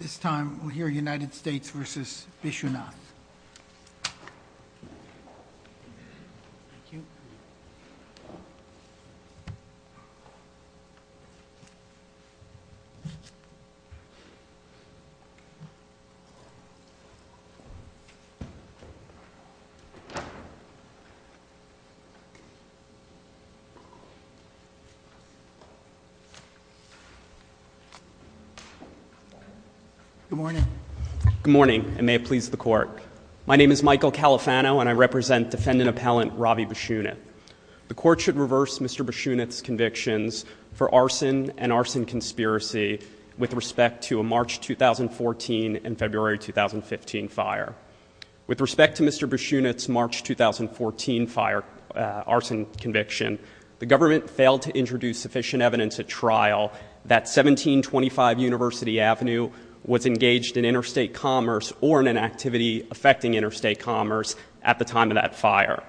This time we'll hear United States v. Bishanoth. Good morning. Good morning, and may it please the Court. My name is Michael Califano, and I represent defendant appellant Ravi Bishanoth. The Court should reverse Mr. Bishanoth's convictions for arson and arson conspiracy with respect to a March 2014 and February 2015 fire. With respect to Mr. Bishanoth's March 2014 arson conviction, the government failed to introduce sufficient evidence at trial that 1725 University Avenue was engaged in interstate commerce or in an activity affecting interstate commerce at the time of that fire.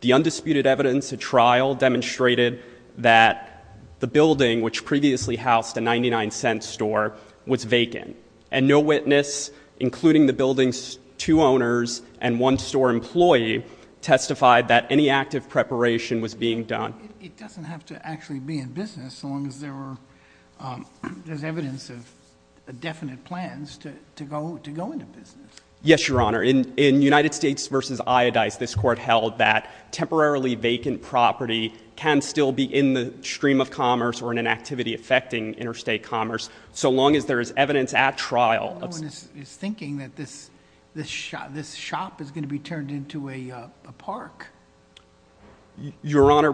The undisputed evidence at trial demonstrated that the building, which previously housed a $0.99 store, was vacant, and no witness, including the building's two owners and one store employee, testified that any active preparation was being done. It doesn't have to actually be in business, so long as there's evidence of definite plans to go into business. Yes, Your Honor. In United States v. Iodice, this Court held that temporarily vacant property can still be in the stream of commerce or in an activity affecting interstate commerce so long as there is evidence at trial. No one is thinking that this shop is going to be turned into a park. Your Honor,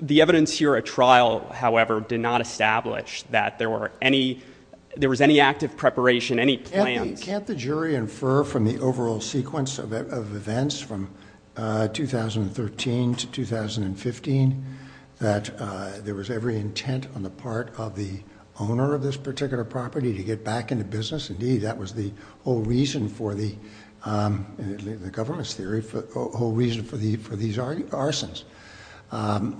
the evidence here at trial, however, did not establish that there was any active preparation, any plans. Can't the jury infer from the overall sequence of events from 2013 to 2015 that there was every intent on the part of the owner of this particular property to get back into business? Indeed, that was the whole reason for the government's theory, the whole reason for these arsons,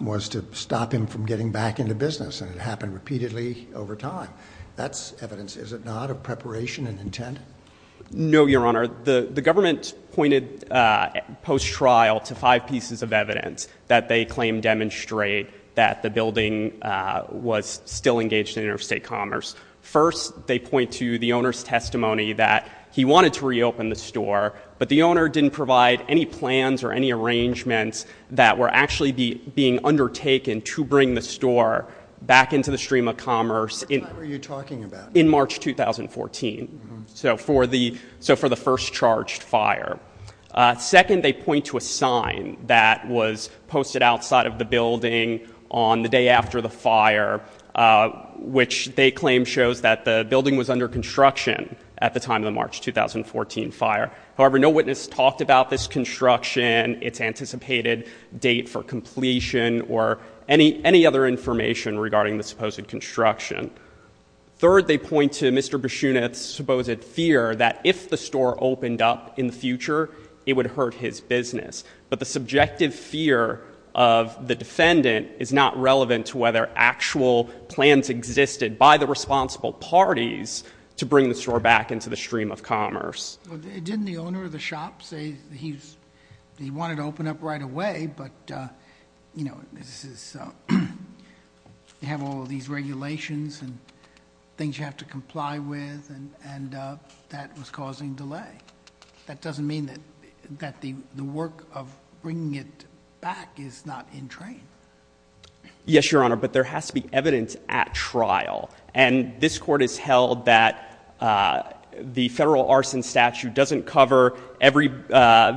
was to stop him from getting back into business, and it happened repeatedly over time. That's evidence, is it not, of preparation and intent? No, Your Honor. Your Honor, the government pointed post-trial to five pieces of evidence that they claim demonstrate that the building was still engaged in interstate commerce. First, they point to the owner's testimony that he wanted to reopen the store, but the owner didn't provide any plans or any arrangements that were actually being undertaken to bring the store back into the stream of commerce. What time were you talking about? In March 2014. So for the first charged fire. Second, they point to a sign that was posted outside of the building on the day after the fire, which they claim shows that the building was under construction at the time of the March 2014 fire. However, no witness talked about this construction, its anticipated date for completion, or any other information regarding the supposed construction. Third, they point to Mr. Bichuneth's supposed fear that if the store opened up in the future, it would hurt his business. But the subjective fear of the defendant is not relevant to whether actual plans existed by the responsible parties to bring the store back into the stream of commerce. Didn't the owner of the shop say he wanted to open up right away, but, you know, you have all these regulations and things you have to comply with, and that was causing delay. That doesn't mean that the work of bringing it back is not in train. Yes, Your Honor, but there has to be evidence at trial. And this court has held that the federal arson statute doesn't cover every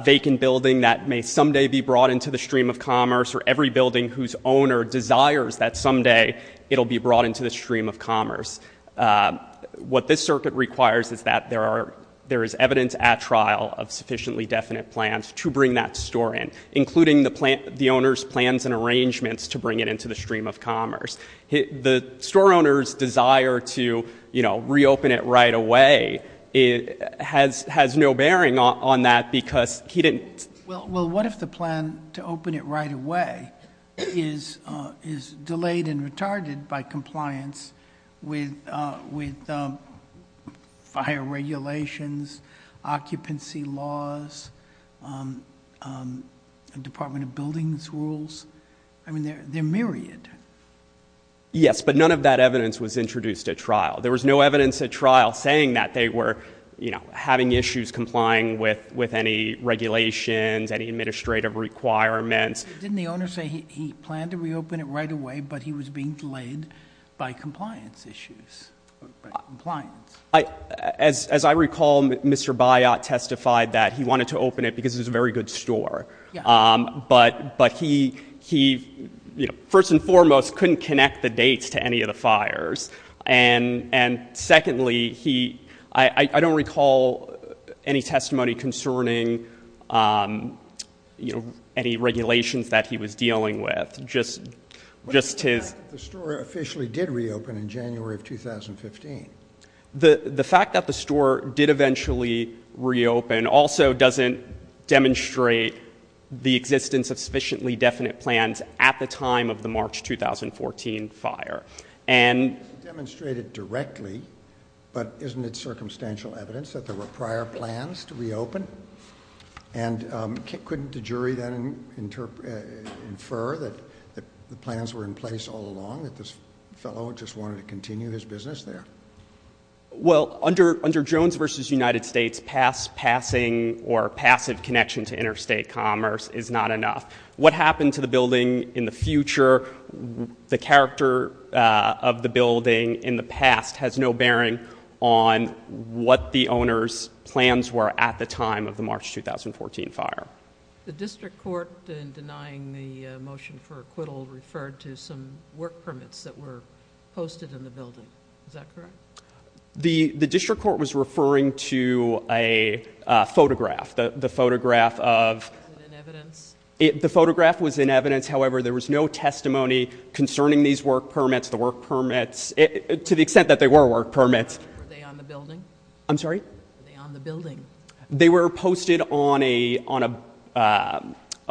vacant building that may someday be brought into the stream of commerce, or every building whose owner desires that someday it will be brought into the stream of commerce. What this circuit requires is that there is evidence at trial of sufficiently definite plans to bring that store in, including the owner's plans and arrangements to bring it into the stream of commerce. The store owner's desire to, you know, reopen it right away has no bearing on that because he didn't. Well, what if the plan to open it right away is delayed and retarded by compliance with fire regulations, occupancy laws, Department of Buildings rules? I mean, they're myriad. Yes, but none of that evidence was introduced at trial. There was no evidence at trial saying that they were, you know, having issues complying with any regulations, any administrative requirements. Didn't the owner say he planned to reopen it right away, but he was being delayed by compliance issues, by compliance? As I recall, Mr. Biot testified that he wanted to open it because it was a very good store. But he, you know, first and foremost couldn't connect the dates to any of the fires. And secondly, he — I don't recall any testimony concerning, you know, any regulations that he was dealing with, just his — What about the fact that the store officially did reopen in January of 2015? The fact that the store did eventually reopen also doesn't demonstrate the existence of sufficiently definite plans at the time of the March 2014 fire. And — It's demonstrated directly, but isn't it circumstantial evidence that there were prior plans to reopen? And couldn't the jury then infer that the plans were in place all along, that this fellow just wanted to continue his business there? Well, under Jones v. United States, past passing or passive connection to interstate commerce is not enough. What happened to the building in the future, the character of the building in the past, has no bearing on what the owner's plans were at the time of the March 2014 fire. The district court, in denying the motion for acquittal, referred to some work permits that were posted in the building. Is that correct? The district court was referring to a photograph, the photograph of — Is it in evidence? The photograph was in evidence. However, there was no testimony concerning these work permits, the work permits, to the extent that they were work permits. Were they on the building? I'm sorry? Were they on the building? They were posted on a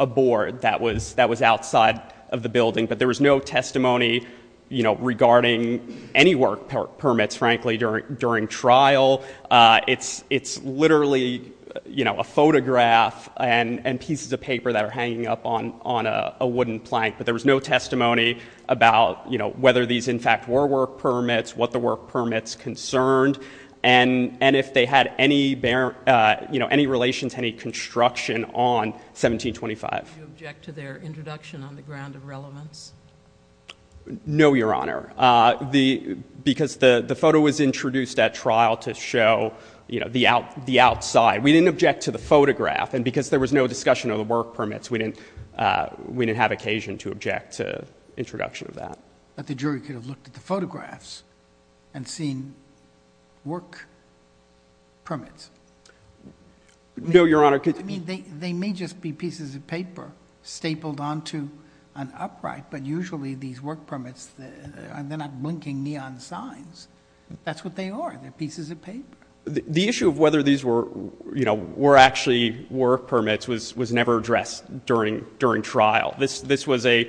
board that was outside of the building. But there was no testimony, you know, regarding any work permits, frankly, during trial. It's literally, you know, a photograph and pieces of paper that are hanging up on a wooden plank. But there was no testimony about, you know, whether these in fact were work permits, what the work permits concerned, and if they had any relation to any construction on 1725. Do you object to their introduction on the ground of relevance? No, Your Honor. Because the photo was introduced at trial to show, you know, the outside. We didn't object to the photograph. And because there was no discussion of the work permits, we didn't have occasion to object to introduction of that. But the jury could have looked at the photographs and seen work permits. No, Your Honor. I mean, they may just be pieces of paper stapled onto an upright, but usually these work permits, they're not blinking neon signs. That's what they are. They're pieces of paper. The issue of whether these were, you know, were actually work permits was never addressed during trial. This was a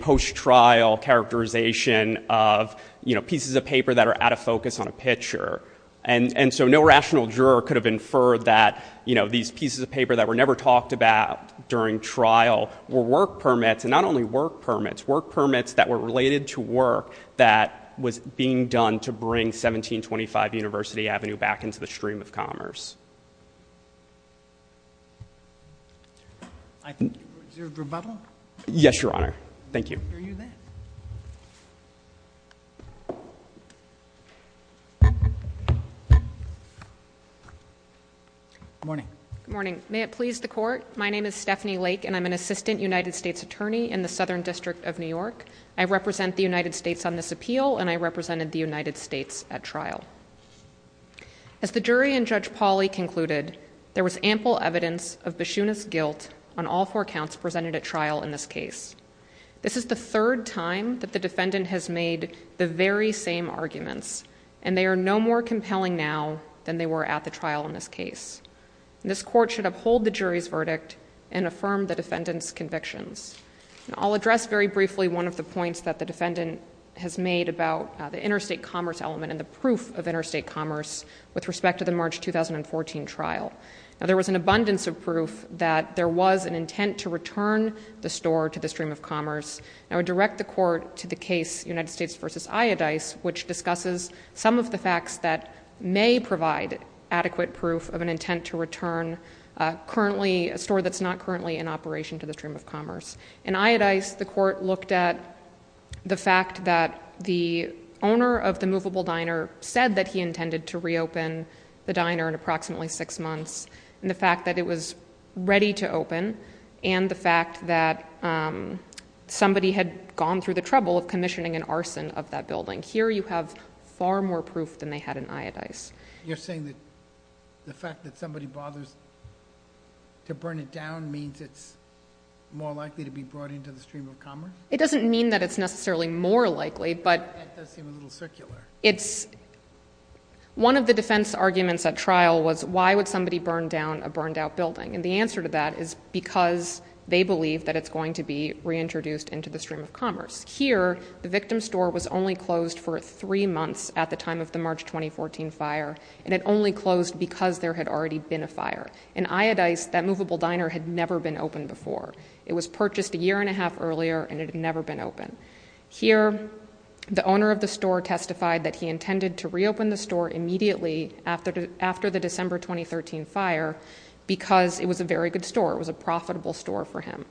post-trial characterization of, you know, pieces of paper that are out of focus on a picture. And so no rational juror could have inferred that, you know, these pieces of paper that were never talked about during trial were work permits, and not only work permits, work permits that were related to work that was being done to bring 1725 University Avenue back into the stream of commerce. Is there a rebuttal? Yes, Your Honor. Thank you. Are you there? Good morning. Good morning. May it please the Court, my name is Stephanie Lake, and I'm an assistant United States attorney in the Southern District of New York. I represent the United States on this appeal, and I represented the United States at trial. As the jury and Judge Pauly concluded, there was ample evidence of Bashuna's guilt on all four counts presented at trial in this case. This is the third time that the defendant has made the very same arguments, and they are no more compelling now than they were at the trial in this case. This Court should uphold the jury's verdict and affirm the defendant's convictions. I'll address very briefly one of the points that the defendant has made about the interstate commerce element and the proof of interstate commerce with respect to the March 2014 trial. There was an abundance of proof that there was an intent to return the store to the stream of commerce. I would direct the Court to the case United States v. Iodice, which discusses some of the facts that may provide adequate proof of an intent to return a store that's not currently in operation to the stream of commerce. In Iodice, the Court looked at the fact that the owner of the movable diner said that he intended to reopen the diner in approximately six months, and the fact that it was ready to open, and the fact that somebody had gone through the trouble of commissioning an arson of that building. Here you have far more proof than they had in Iodice. You're saying that the fact that somebody bothers to burn it down means it's more likely to be brought into the stream of commerce? It doesn't mean that it's necessarily more likely, but... That does seem a little circular. One of the defense arguments at trial was why would somebody burn down a burned out building, and the answer to that is because they believe that it's going to be reintroduced into the stream of commerce. Here, the victim's store was only closed for three months at the time of the March 2014 fire, and it only closed because there had already been a fire. In Iodice, that movable diner had never been opened before. It was purchased a year and a half earlier, and it had never been opened. Here, the owner of the store testified that he intended to reopen the store immediately after the December 2013 fire because it was a very good store. It was a profitable store for him.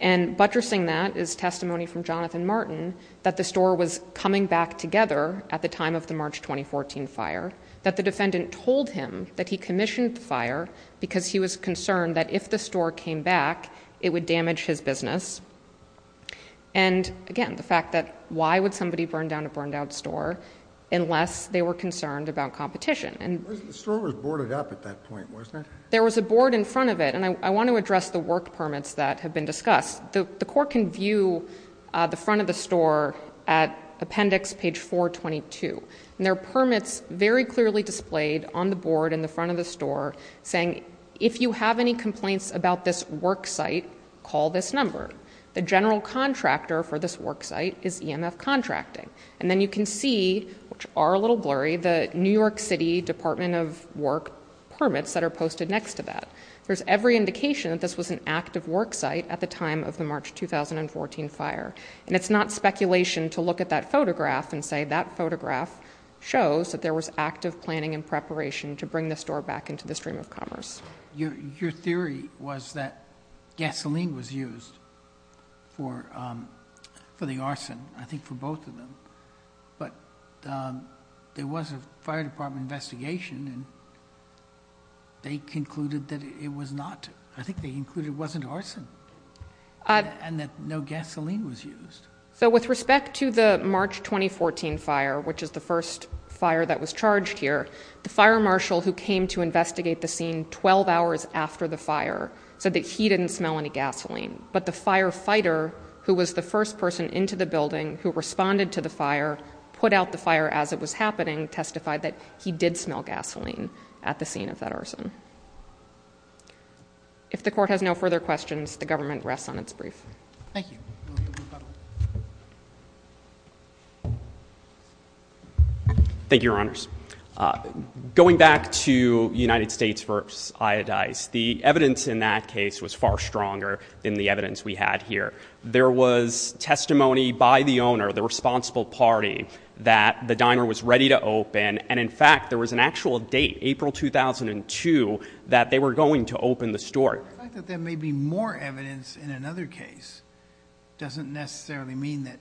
And buttressing that is testimony from Jonathan Martin that the store was coming back together at the time of the March 2014 fire, that the defendant told him that he commissioned the fire because he was concerned that if the store came back, it would damage his business, and again, the fact that why would somebody burn down a burned out store unless they were concerned about competition? The store was boarded up at that point, wasn't it? There was a board in front of it, and I want to address the work permits that have been discussed. The court can view the front of the store at appendix page 422, and there are permits very clearly displayed on the board in the front of the store saying if you have any complaints about this work site, call this number. The general contractor for this work site is EMF Contracting, and then you can see, which are a little blurry, the New York City Department of Work permits that are posted next to that. There's every indication that this was an active work site at the time of the March 2014 fire, and it's not speculation to look at that photograph and say that photograph shows that there was active planning and preparation to bring the store back into the stream of commerce. Your theory was that gasoline was used for the arson, I think for both of them, but there was a fire department investigation, and they concluded that it was not. I think they concluded it wasn't arson and that no gasoline was used. So with respect to the March 2014 fire, which is the first fire that was charged here, the fire marshal who came to investigate the scene 12 hours after the fire said that he didn't smell any gasoline, but the firefighter who was the first person into the building who responded to the fire, put out the fire as it was happening, testified that he did smell gasoline at the scene of that arson. If the Court has no further questions, the government rests on its brief. Thank you. Thank you, Your Honors. Going back to United States v. Iodized, the evidence in that case was far stronger than the evidence we had here. There was testimony by the owner, the responsible party, that the diner was ready to open, and in fact there was an actual date, April 2002, that they were going to open the store. The fact that there may be more evidence in another case doesn't necessarily mean that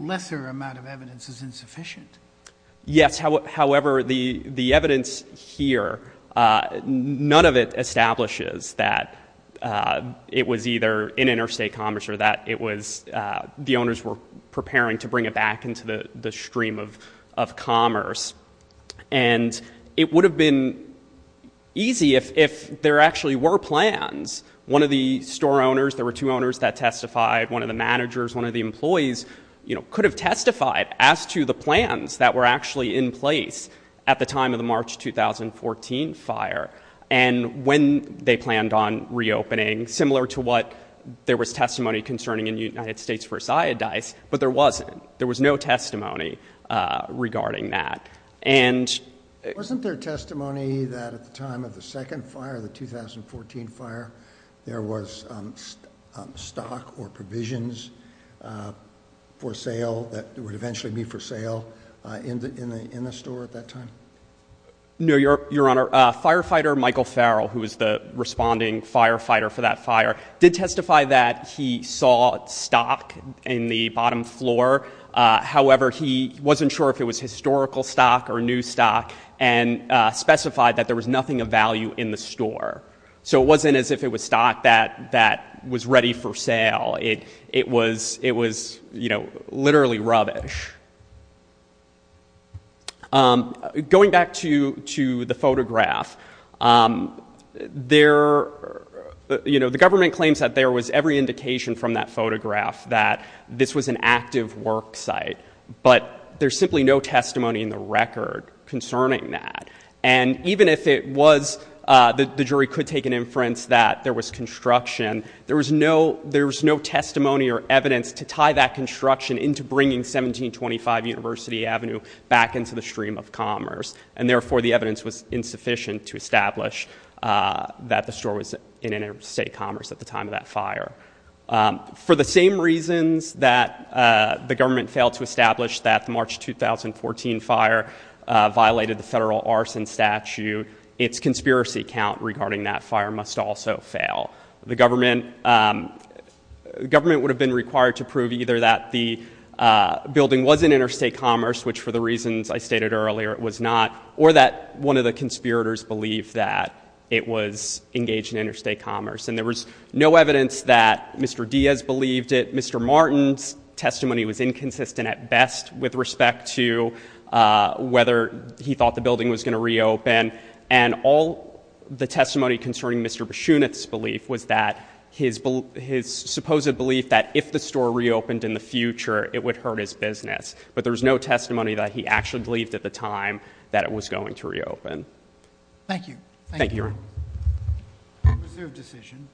lesser amount of evidence is insufficient. Yes, however, the evidence here, none of it establishes that it was either in interstate commerce or that the owners were preparing to bring it back into the stream of commerce. And it would have been easy if there actually were plans. One of the store owners, there were two owners that testified, one of the managers, one of the employees, could have testified as to the plans that were actually in place at the time of the March 2014 fire, and when they planned on reopening, similar to what there was testimony concerning in United States v. Iodized, but there wasn't. There was no testimony regarding that. Wasn't there testimony that at the time of the second fire, the 2014 fire, there was stock or provisions for sale that would eventually be for sale in the store at that time? No, Your Honor. Firefighter Michael Farrell, who was the responding firefighter for that fire, did testify that he saw stock in the bottom floor. However, he wasn't sure if it was historical stock or new stock and specified that there was nothing of value in the store. So it wasn't as if it was stock that was ready for sale. It was literally rubbish. Going back to the photograph, the government claims that there was every indication from that photograph that this was an active work site, but there's simply no testimony in the record concerning that. And even if it was, the jury could take an inference that there was construction, there was no testimony or evidence to tie that construction into bringing 1725 University Avenue back into the stream of commerce, and therefore the evidence was insufficient to establish that the store was in interstate commerce at the time of that fire. For the same reasons that the government failed to establish that the March 2014 fire violated the federal arson statute, its conspiracy count regarding that fire must also fail. The government would have been required to prove either that the building was in interstate commerce, which for the reasons I stated earlier it was not, or that one of the conspirators believed that it was engaged in interstate commerce. And there was no evidence that Mr. Diaz believed it. Mr. Martin's testimony was inconsistent at best with respect to whether he thought the building was going to reopen, and all the testimony concerning Mr. Bichuneth's belief was that his supposed belief that if the store reopened in the future, it would hurt his business. But there was no testimony that he actually believed at the time that it was going to reopen. Thank you. Thank you, Your Honor.